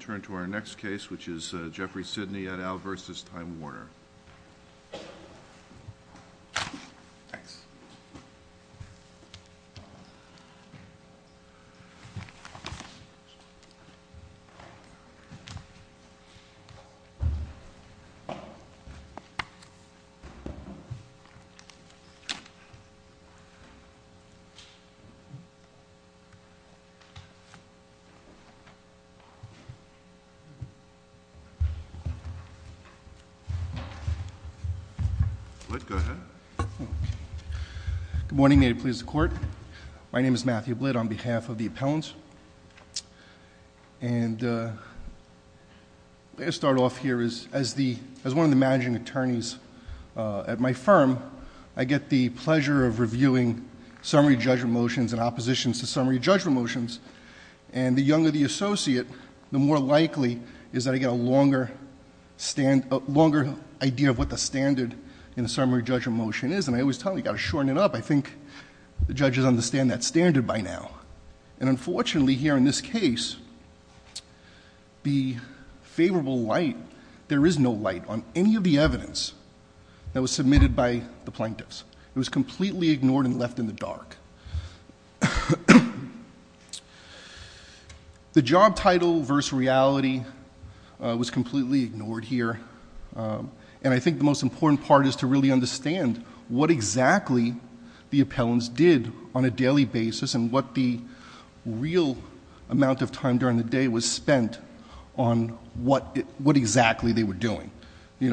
Turn to our next case, which is Jeffrey Sidney at Al versus Time Warner Good morning. May it please the court. My name is Matthew Blitt on behalf of the appellants. And let me start off here as one of the managing attorneys at my firm, I get the pleasure of reviewing summary judgment motions and oppositions to summary judgment motions. And the younger the associate, the more likely is that I get a longer stand, a longer idea of what the standard in a summary judgment motion is. And I always tell them, you got to shorten it up. I think the judges understand that standard by now. And unfortunately here in this case, the favorable light, there is no light on any of the evidence that was submitted by the plaintiffs. It was completely ignored and left in the dark. The job title versus reality was completely ignored here. And I think the most important part is to really understand what exactly the appellants did on a daily basis and what the real amount of time during the day was spent on what exactly they were doing.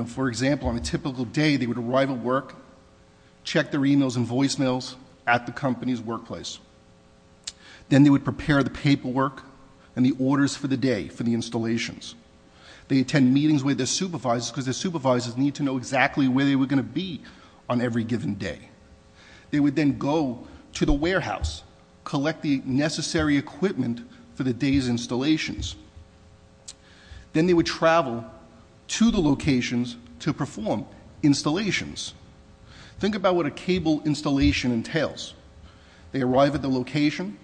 For example, on a typical day they would arrive at work, check their emails and voicemails at the company's workplace. Then they would prepare the paperwork and the orders for the day for the installations. They attend meetings with their supervisors because their supervisors need to know exactly where they were going to be on every given day. They would then go to the warehouse, collect the necessary equipment for the day's installations. Then they would travel to the installations. Think about what a cable installation entails. They arrive at the location,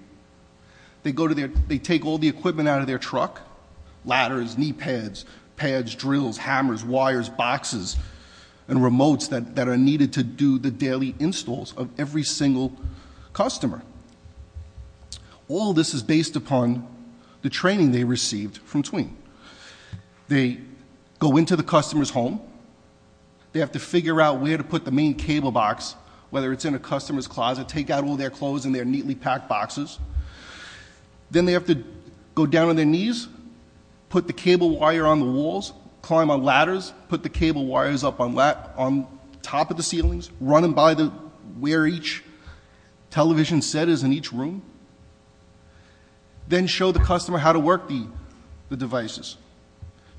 they take all the equipment out of their truck, ladders, knee pads, pads, drills, hammers, wires, boxes and remotes that are needed to do the daily installs of every single customer. All this is based upon the training they received from Tween. They go into the customer's home, they have to figure out where to put the main cable box, whether it's in a customer's closet, take out all their clothes in their neatly packed boxes. Then they have to go down on their knees, put the cable wire on the walls, climb on ladders, put the cable wires up on top of the ceilings, run them by where each television set is in each room. Then show the customer how to work the devices.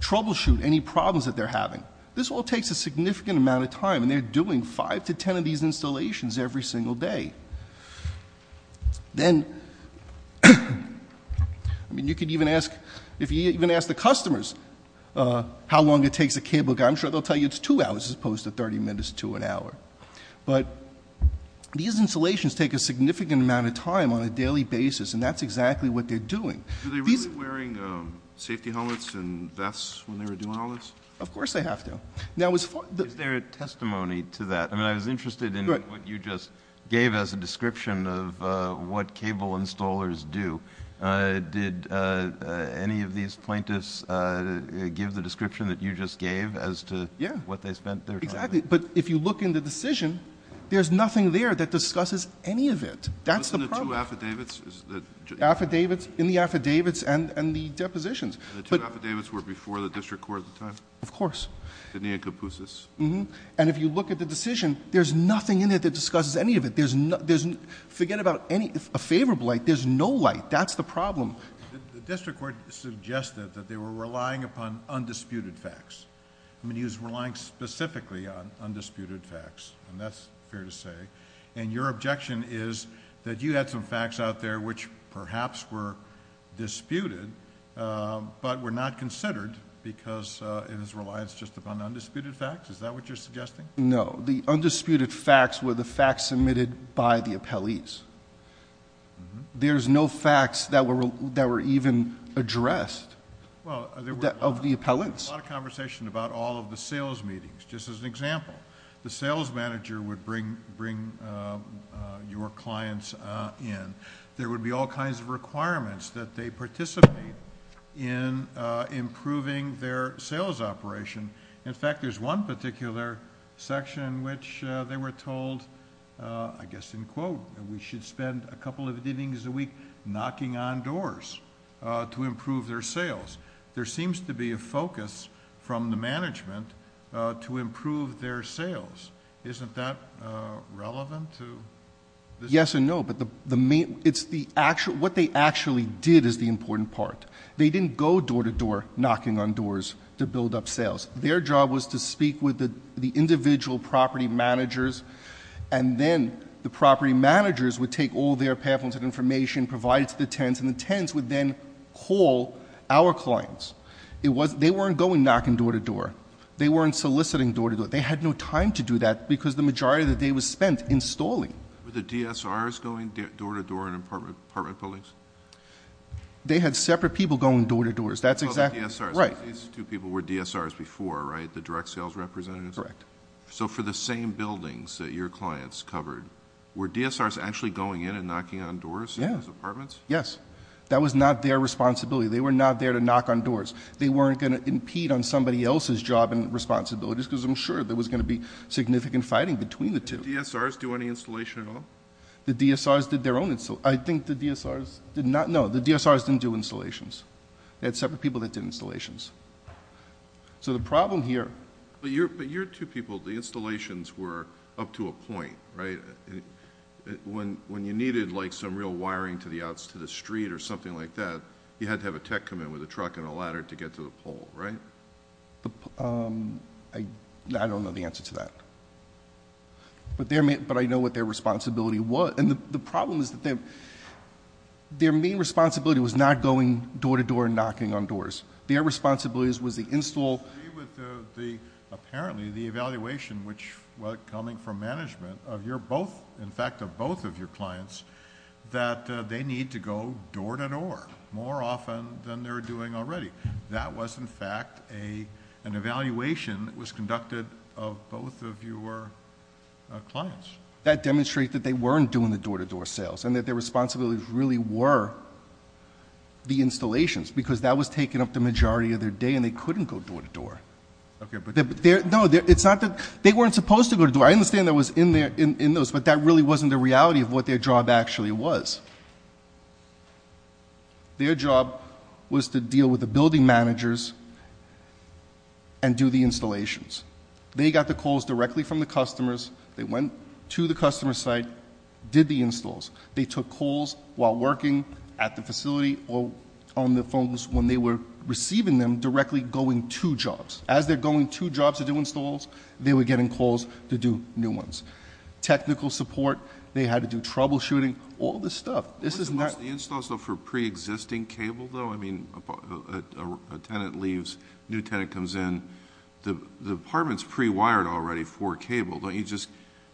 Troubleshoot any problems that they're having. This all takes a significant amount of time and they're doing five to ten of these installations every single day. Then, I mean you could even ask, if you even ask the customers how long it takes a cable guy, I'm sure they'll tell you it's two hours as opposed to thirty minutes to an hour. But these installations take a significant amount of time on a daily basis and that's exactly what they're doing. Are they really wearing safety helmets and vests when they were doing all this? Of course they have to. Is there a testimony to that? I mean I was interested in what you just gave as a description of what cable installers do. Did any of these plaintiffs give the description that you just gave as to what they spent their time on? Yeah, exactly. But if you look in the decision, there's nothing there that discusses any of it. That's the problem. In the affidavits? Affidavits, in the affidavits and the depositions. And the two affidavits were before the district court at the time? Of course. The neocomposites? Uh-huh. And if you look at the decision, there's nothing in it that discusses any of it. Forget about a favorable light, there's no light. That's the problem. The district court suggested that they were relying upon undisputed facts. I mean he was relying specifically on undisputed facts and that's fair to say. And your objection is that you had some facts out there which perhaps were disputed but were not considered because it was reliance just upon undisputed facts? Is that what you're suggesting? No. The undisputed facts were the facts submitted by the appellees. There's no facts that were even addressed of the appellants. Well, there was a lot of conversation about all of the sales meetings. Just as an example, the sales manager would bring your clients in. There would be all kinds of requirements that they participate in improving their sales operation. In fact, there's one particular section in which they were told, I guess in quote, we should spend a couple of evenings a week knocking on doors to improve their sales. There seems to be a focus from the sales. Isn't that relevant to this? Yes and no. What they actually did is the important part. They didn't go door to door knocking on doors to build up sales. Their job was to speak with the individual property managers and then the property managers would take all their pamphlets and information, provide it to the tenants, and the tenants would then call our clients. They weren't going knocking door to door. They weren't soliciting door to door. They had no time to do that because the majority of the day was spent installing. Were the DSRs going door to door in apartment buildings? They had separate people going door to door. Oh, the DSRs. Right. These two people were DSRs before, right? The direct sales representatives? Correct. For the same buildings that your clients covered, were DSRs actually going in and knocking on doors in those apartments? Yes. That was not their responsibility. They were not there to knock on doors. They weren't going to impede on somebody else's job and responsibilities because I'm sure there was going to be significant fighting between the two. Did the DSRs do any installation at all? The DSRs did their own installation. I think the DSRs did not. No, the DSRs didn't do installations. They had separate people that did installations. So the problem here But your two people, the installations were up to a point, right? When you needed like some real wiring to the outs to the street or something like that, you had to have a truck and a ladder to get to the pole, right? I don't know the answer to that. But I know what their responsibility was. And the problem is that their main responsibility was not going door to door and knocking on doors. Their responsibility was the install. I agree with apparently the evaluation which was coming from management of your both, in that they need to go door to door more often than they're doing already. That was in fact an evaluation that was conducted of both of your clients. That demonstrates that they weren't doing the door to door sales and that their responsibilities really were the installations because that was taking up the majority of their day and they couldn't go door to door. Okay, but No, it's not that they weren't supposed to go door to door. I understand that was in those. But that really wasn't the reality of what their job actually was. Their job was to deal with the building managers and do the installations. They got the calls directly from the customers. They went to the customer site, did the installs. They took calls while working at the facility or on the phones when they were receiving them directly going to jobs. As they're going to jobs to do installs, they were getting calls to do new ones. Technical support, they had to do troubleshooting, all this stuff. Wasn't most of the installs though for pre-existing cable though? I mean, a tenant leaves, a new tenant comes in. The apartment's pre-wired already for cable. Don't you just,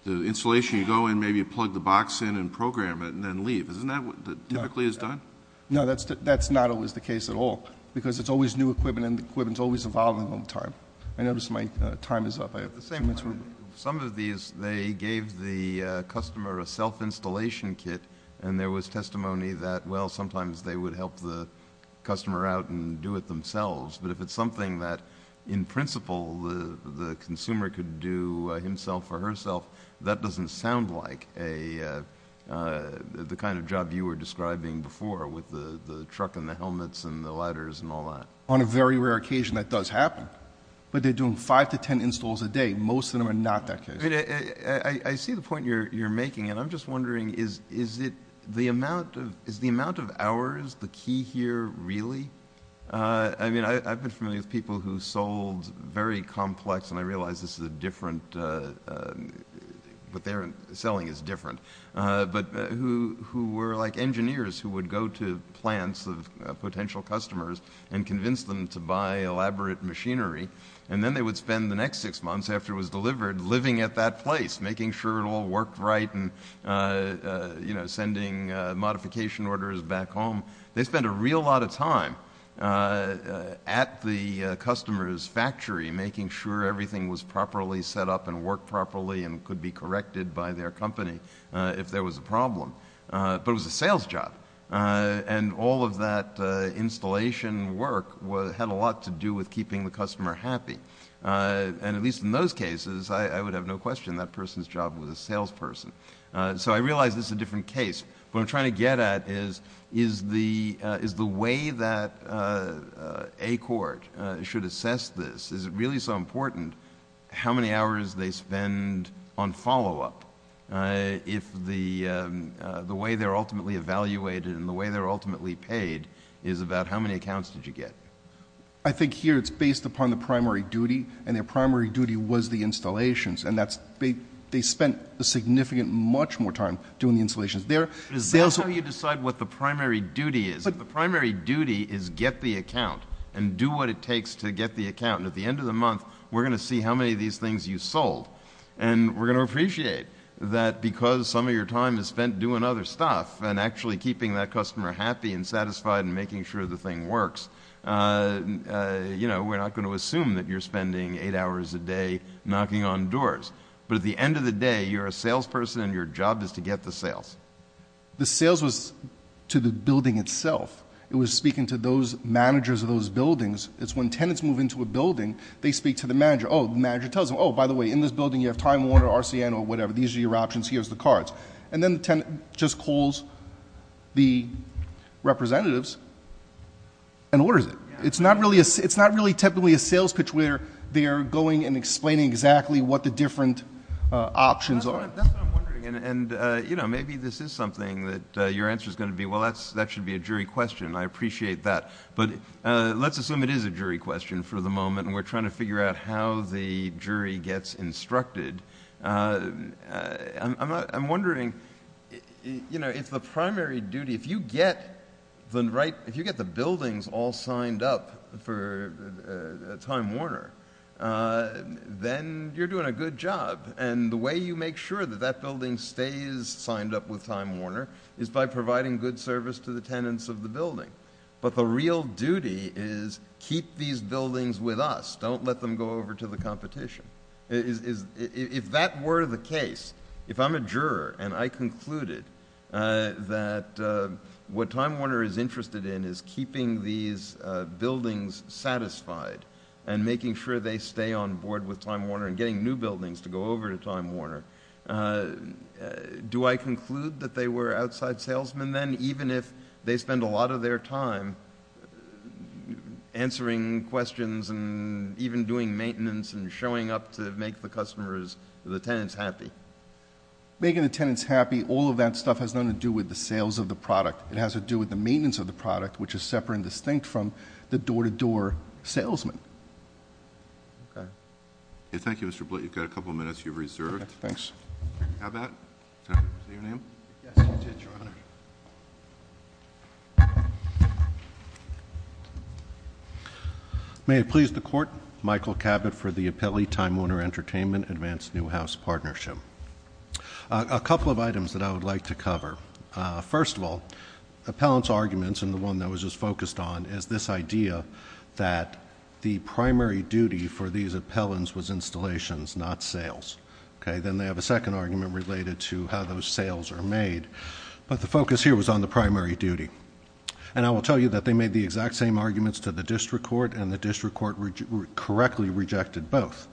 the installation you go in, maybe you plug the box in and program it and then leave. Isn't that what typically is done? No, that's not always the case at all because it's always new equipment and the equipment's always evolving over time. I notice my time is up. Some of these, they gave the customer a self-installation kit and there was testimony that, well, sometimes they would help the customer out and do it themselves. But if it's something that, in principle, the consumer could do himself or herself, that doesn't sound like the kind of job you were describing before with the truck and the helmets and the ladders and all that. On a very rare occasion, that does happen. But they're doing five to ten installs a day. Most of them are not that case. I see the point you're making and I'm just wondering, is the amount of hours the key here really? I mean, I've been familiar with people who sold very complex, and I realize this is a different, what they're selling is different, but who were like engineers who would go to plants of potential customers and convince them to buy elaborate machinery, and then they would spend the next six months after it was delivered living at that place, making sure it all worked right and sending modification orders back home. They spent a real lot of time at the customer's factory making sure everything was properly set up and worked properly and could be corrected by their company if there was a problem. But it was a sales job and all of that installation work had a lot to do with keeping the customer happy. And at least in those cases, I would have no question that person's job was a salesperson. So I realize this is a different case. What I'm trying to get at is, is the way that a court should assess this, is it really so the way they're ultimately evaluated and the way they're ultimately paid is about how many accounts did you get? I think here it's based upon the primary duty, and their primary duty was the installations. And that's, they spent a significant, much more time doing the installations. Is that how you decide what the primary duty is? The primary duty is get the account and do what it takes to get the account. And at the end of the month, we're going to see how many of these things you sold. And we're going to appreciate that because some of your time is spent doing other stuff and actually keeping that customer happy and satisfied and making sure the thing works, you know, we're not going to assume that you're spending eight hours a day knocking on doors. But at the end of the day, you're a salesperson and your job is to get the sales. The sales was to the building itself. It was speaking to those managers of those buildings. It's when tenants move into a building, they speak to the manager. Oh, the manager tells them, oh, by the way, in this building you have Time Warner, RCN, or whatever. These are your options. Here's the cards. And then the tenant just calls the representatives and orders it. It's not really typically a sales pitch where they are going and explaining exactly what the different options are. That's what I'm wondering. And, you know, maybe this is something that your answer is going to be, well, that should be a jury question. I appreciate that. But let's assume it is a jury question for the moment, and we're trying to figure out how the jury gets instructed. I'm wondering, you know, if the primary duty, if you get the buildings all signed up for Time Warner, then you're doing a good job. And the way you make sure that that building stays signed up with Time Warner is by providing good service to the tenants of the building. But the real duty is keep these buildings with us. Don't let them go over to the competition. If that were the case, if I'm a juror and I concluded that what Time Warner is interested in is keeping these buildings satisfied and making sure they stay on board with Time Warner and getting new buildings to go over to Time Warner, do I conclude that they were outside salesmen then, even if they spend a lot of their time answering questions and even doing maintenance and showing up to make the customers, the tenants happy? Making the tenants happy, all of that stuff has nothing to do with the sales of the product. It has to do with the maintenance of the product, which is separate and distinct from the door-to-door salesman. Okay. Thank you, Mr. Blatt. You've got a couple of minutes. You're reserved. Thanks. How about your name? Yes, I did, Your Honor. May it please the Court, Michael Cabot for the appellee Time Warner Entertainment Advanced New House Partnership. A couple of items that I would like to cover. First of all, appellant's arguments and the one that was just focused on is this idea that the primary duty for these appellants was installations, not sales. Okay. Then they have a second argument related to how those sales are made. But the focus here was on the primary duty. And I will tell you that they made the exact same arguments to the district court, and the district court correctly rejected both.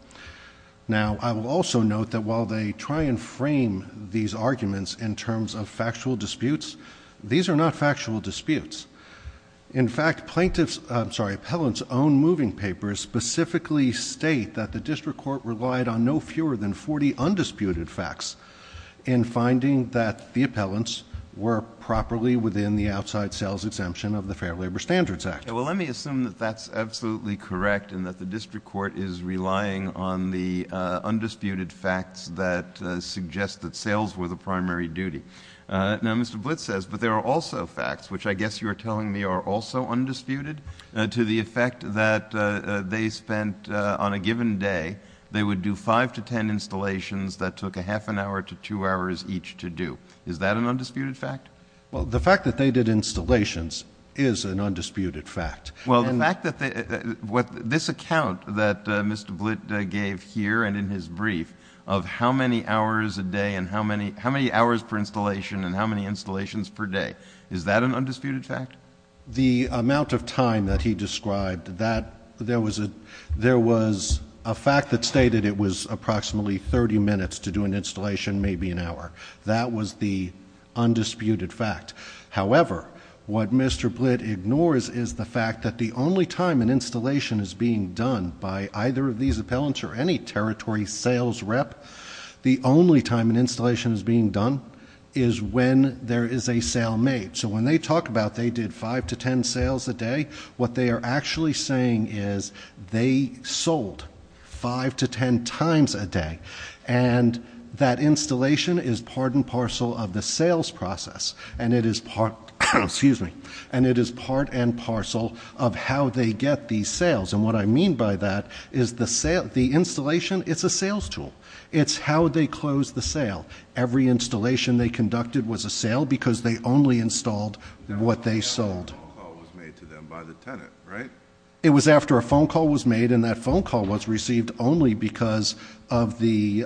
Now, I will also note that while they try and frame these arguments in terms of factual disputes, these are not factual disputes. In fact, plaintiffs, I'm sorry, appellants' own moving papers specifically state that the district court relied on no fewer than 40 undisputed facts in finding that the appellants were properly within the outside sales exemption of the Fair Labor Standards Act. Well, let me assume that that's absolutely correct and that the district court is relying on the undisputed facts that suggest that sales were the primary duty. Now, Mr. Blitz says, but there are also facts, which I guess you are telling me are also undisputed, to the effect that they spent on a given day, they would do five to ten installations that took a half an hour to two hours each to do. Is that an undisputed fact? Well, the fact that they did installations is an undisputed fact. Well, the fact that they — this account that Mr. Blitz gave here and in his brief of how many hours a day and how many hours per installation and how many installations per day, is that an undisputed fact? The amount of time that he described, there was a fact that stated it was approximately 30 minutes to do an installation, maybe an hour. That was the undisputed fact. However, what Mr. Blitz ignores is the fact that the only time an installation is being done by either of these appellants or any territory sales rep, the only time an installation is being done is when there is a sale made. So when they talk about they did five to ten sales a day, what they are actually saying is they sold five to ten times a day. And that installation is part and parcel of the sales process. And it is part and parcel of how they get these sales. And what I mean by that is the installation, it's a sales tool. It's how they close the sale. Every installation they conducted was a sale because they only installed what they sold. It was after a phone call was made to them by the tenant, right? It was after a phone call was made, and that phone call was received only because of the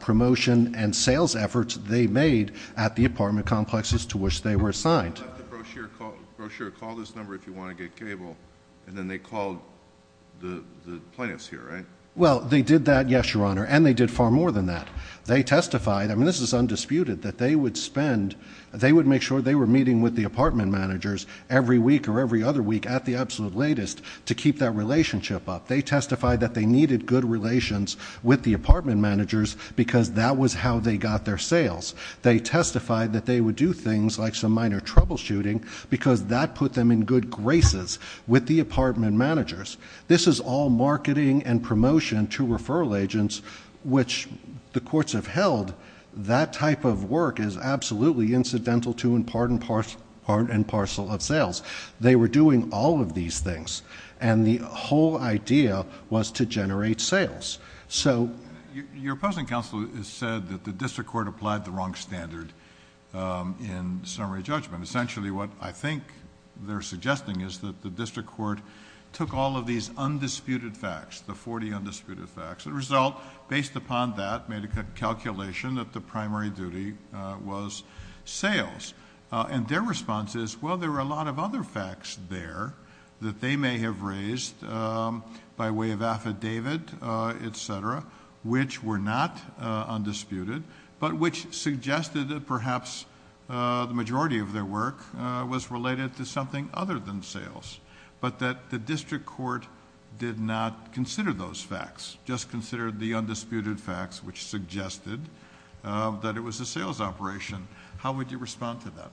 promotion and sales efforts they made at the apartment complexes to which they were assigned. The brochure called this number if you want to get cable, and then they called the plaintiffs here, right? Well, they did that, yes, Your Honor, and they did far more than that. They testified, I mean this is undisputed, that they would spend, they would make sure they were meeting with the apartment managers every week or every other week at the absolute latest to keep that relationship up. They testified that they needed good relations with the apartment managers because that was how they got their sales. They testified that they would do things like some minor troubleshooting because that put them in good graces with the apartment managers. This is all marketing and promotion to referral agents which the courts have held. That type of work is absolutely incidental to and part and parcel of sales. They were doing all of these things, and the whole idea was to generate sales. So... Your opposing counsel has said that the district court applied the wrong standard in summary judgment. Essentially what I think they're suggesting is that the district court took all of these undisputed facts, the 40 undisputed facts, the result based upon that made a calculation that the primary duty was sales. Their response is, well, there were a lot of other facts there that they may have raised by way of affidavit, etc., which were not undisputed, but which suggested that perhaps the majority of their work was related to something other than sales, but that the district court did not consider those facts, just considered the undisputed facts which suggested that it was a sales operation. How would you respond to that?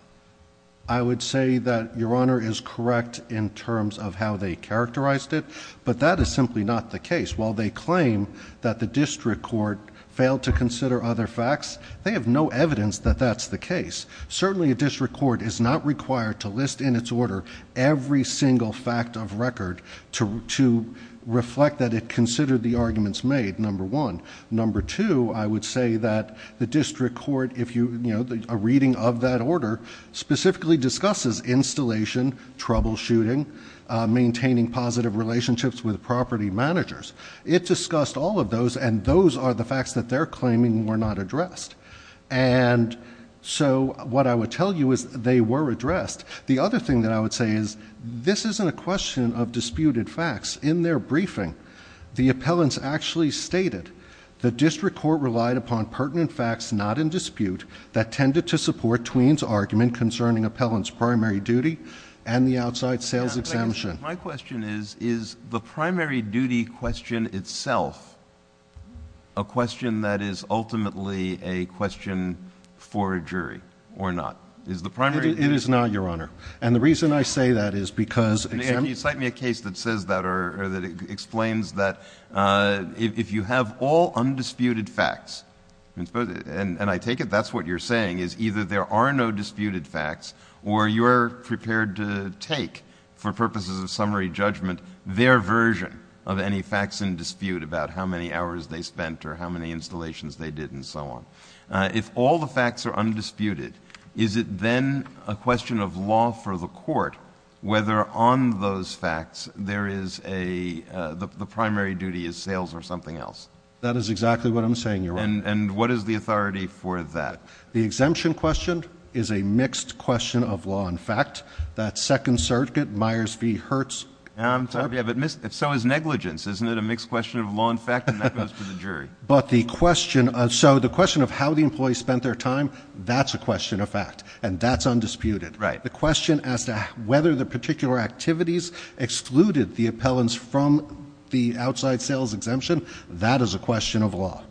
I would say that Your Honor is correct in terms of how they characterized it, but that is simply not the case. While they claim that the district court failed to consider other facts, they have no evidence that that's the case. Certainly a district court is not required to list in its order every single fact of record to reflect that it considered the arguments made, number one. Number two, I would say that the district court, if you... It discussed all of those, and those are the facts that they're claiming were not addressed. And so what I would tell you is they were addressed. The other thing that I would say is this isn't a question of disputed facts. In their briefing, the appellants actually stated the district court relied upon pertinent facts not in dispute that tended to support Tween's argument concerning appellants' primary duty and the outside sales exemption. My question is, is the primary duty question itself a question that is ultimately a question for a jury or not? It is not, Your Honor. And the reason I say that is because... Can you cite me a case that says that or that explains that if you have all undisputed facts, and I take it that's what you're saying, is either there are no disputed facts or you're prepared to take, for purposes of summary judgment, their version of any facts in dispute about how many hours they spent or how many installations they did and so on. If all the facts are undisputed, is it then a question of law for the court whether on those facts there is a... the primary duty is sales or something else? That is exactly what I'm saying, Your Honor. And what is the authority for that? The exemption question is a mixed question of law and fact. That Second Circuit, Myers v. Hertz... If so is negligence. Isn't it a mixed question of law and fact? And that goes to the jury. But the question of... so the question of how the employee spent their time, that's a question of fact. And that's undisputed. Right. The question as to whether the particular activities excluded the appellants from the outside sales exemption, that is a question of law.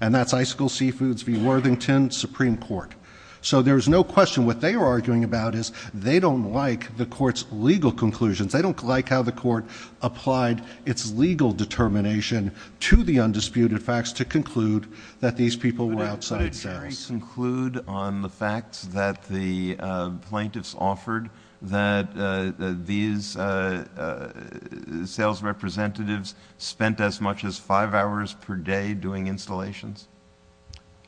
And that's Icicle Seafoods v. Worthington, Supreme Court. So there is no question. What they are arguing about is they don't like the court's legal conclusions. They don't like how the court applied its legal determination to the undisputed facts to conclude that these people were outside sales. Could the jury conclude on the facts that the plaintiffs offered that these sales representatives spent as much as five hours per day doing installations?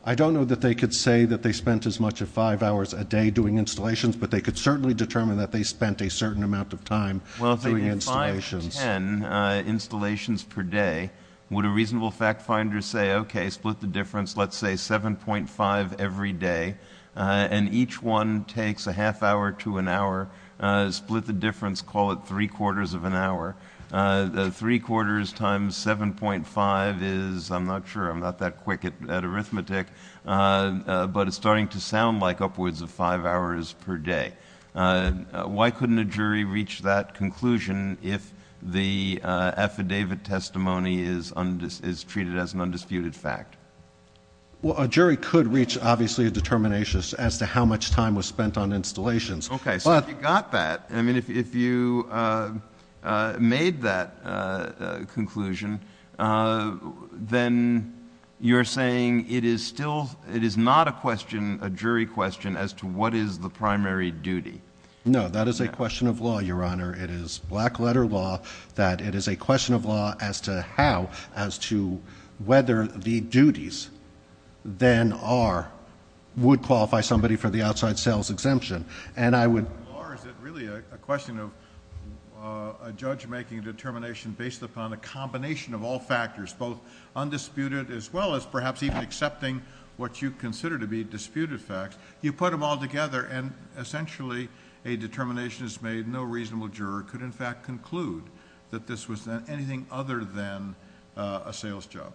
I don't know that they could say that they spent as much as five hours a day doing installations, but they could certainly determine that they spent a certain amount of time doing installations. Five to ten installations per day, would a reasonable fact finder say, okay, split the difference, let's say 7.5 every day, and each one takes a half hour to an hour, split the difference, call it three quarters of an hour. Three quarters times 7.5 is, I'm not sure, I'm not that quick at arithmetic, but it's starting to sound like upwards of five hours per day. Why couldn't a jury reach that conclusion if the affidavit testimony is treated as an undisputed fact? Well, a jury could reach, obviously, a determination as to how much time was spent on installations. Okay, so if you got that, I mean, if you made that conclusion, then you're saying it is still, it is not a question, a jury question as to what is the primary duty. No, that is a question of law, Your Honor. It is black letter law that it is a question of law as to how, as to whether the duties then are, would qualify somebody for the outside sales exemption. Is it really a question of a judge making a determination based upon a combination of all factors, both undisputed as well as perhaps even accepting what you consider to be disputed facts, you put them all together and essentially a determination is made, no reasonable juror could in fact conclude that this was anything other than a sales job.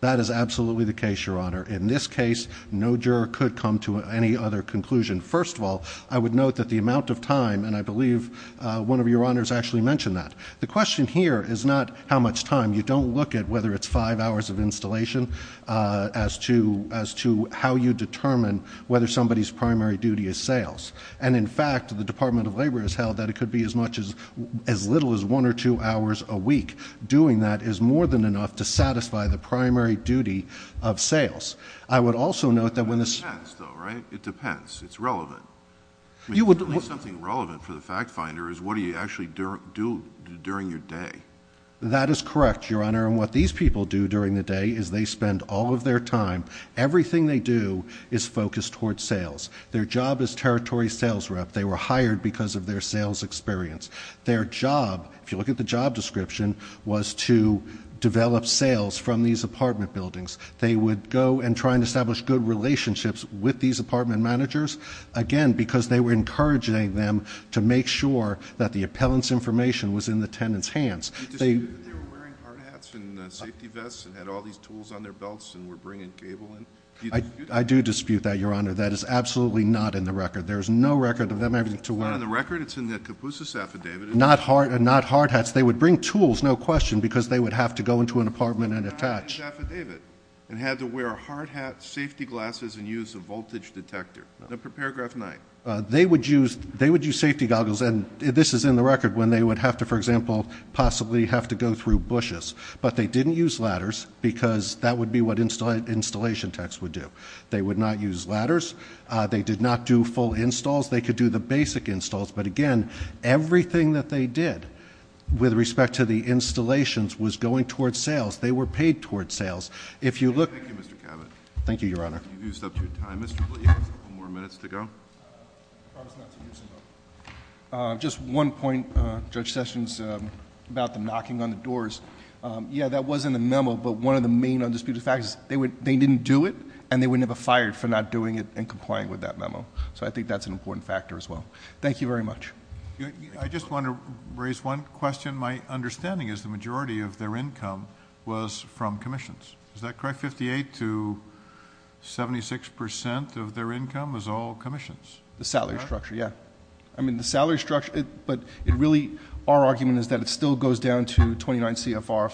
That is absolutely the case, Your Honor. In this case, no juror could come to any other conclusion. First of all, I would note that the amount of time, and I believe one of your honors actually mentioned that. The question here is not how much time. You don't look at whether it's five hours of installation as to how you determine whether somebody's primary duty is sales. And in fact, the Department of Labor has held that it could be as little as one or two hours a week. Doing that is more than enough to satisfy the primary duty of sales. I would also note that when the- It depends though, right? It depends. It's relevant. At least something relevant for the fact finder is what do you actually do during your day. That is correct, Your Honor, and what these people do during the day is they spend all of their time, everything they do is focused towards sales. Their job is territory sales rep. They were hired because of their sales experience. Their job, if you look at the job description, was to develop sales from these apartment buildings. They would go and try and establish good relationships with these apartment managers, again, because they were encouraging them to make sure that the appellant's information was in the tenant's hands. Do you dispute that they were wearing hard hats and safety vests and had all these tools on their belts and were bringing cable in? I do dispute that, Your Honor. That is absolutely not in the record. There is no record of them having to wear- It's not in the record? It's in the Kapusa's affidavit. Not hard hats. They would bring tools, no question, because they would have to go into an apartment and attach- and had to wear hard hats, safety glasses, and use a voltage detector. Paragraph 9. They would use safety goggles, and this is in the record, when they would have to, for example, possibly have to go through bushes. But they didn't use ladders because that would be what installation techs would do. They would not use ladders. They did not do full installs. They could do the basic installs. But, again, everything that they did with respect to the installations was going towards sales. They were paid towards sales. If you look... Thank you, Mr. Cabot. Thank you, Your Honor. You've used up your time. Mr. Lee has a couple more minutes to go. I promise not to use it up. Just one point, Judge Sessions, about them knocking on the doors. Yeah, that was in the memo, but one of the main undisputed facts is they didn't do it, and they wouldn't have been fired for not doing it and complying with that memo. I think that's an important factor as well. Thank you very much. I just want to raise one question. My understanding is the majority of their income was from commissions. Is that correct? Fifty-eight to 76% of their income was all commissions? The salary structure, yeah. I mean, the salary structure... But, really, our argument is that it still goes down to 29 CFR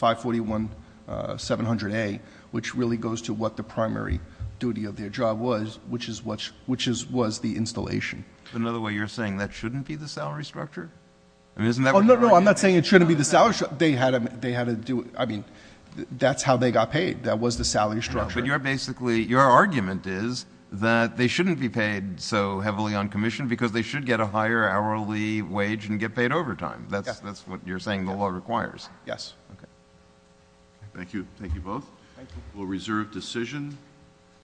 541-700A, which really goes to what the primary duty of their job was, which was the installation. In other words, you're saying that shouldn't be the salary structure? I mean, isn't that what you're arguing? Oh, no, no, I'm not saying it shouldn't be the salary structure. They had to do it. I mean, that's how they got paid. That was the salary structure. But you're basically... your argument is that they shouldn't be paid so heavily on commission because they should get a higher hourly wage and get paid overtime. That's what you're saying the law requires. Yes. Okay. Thank you. Thank you both. We'll reserve decision.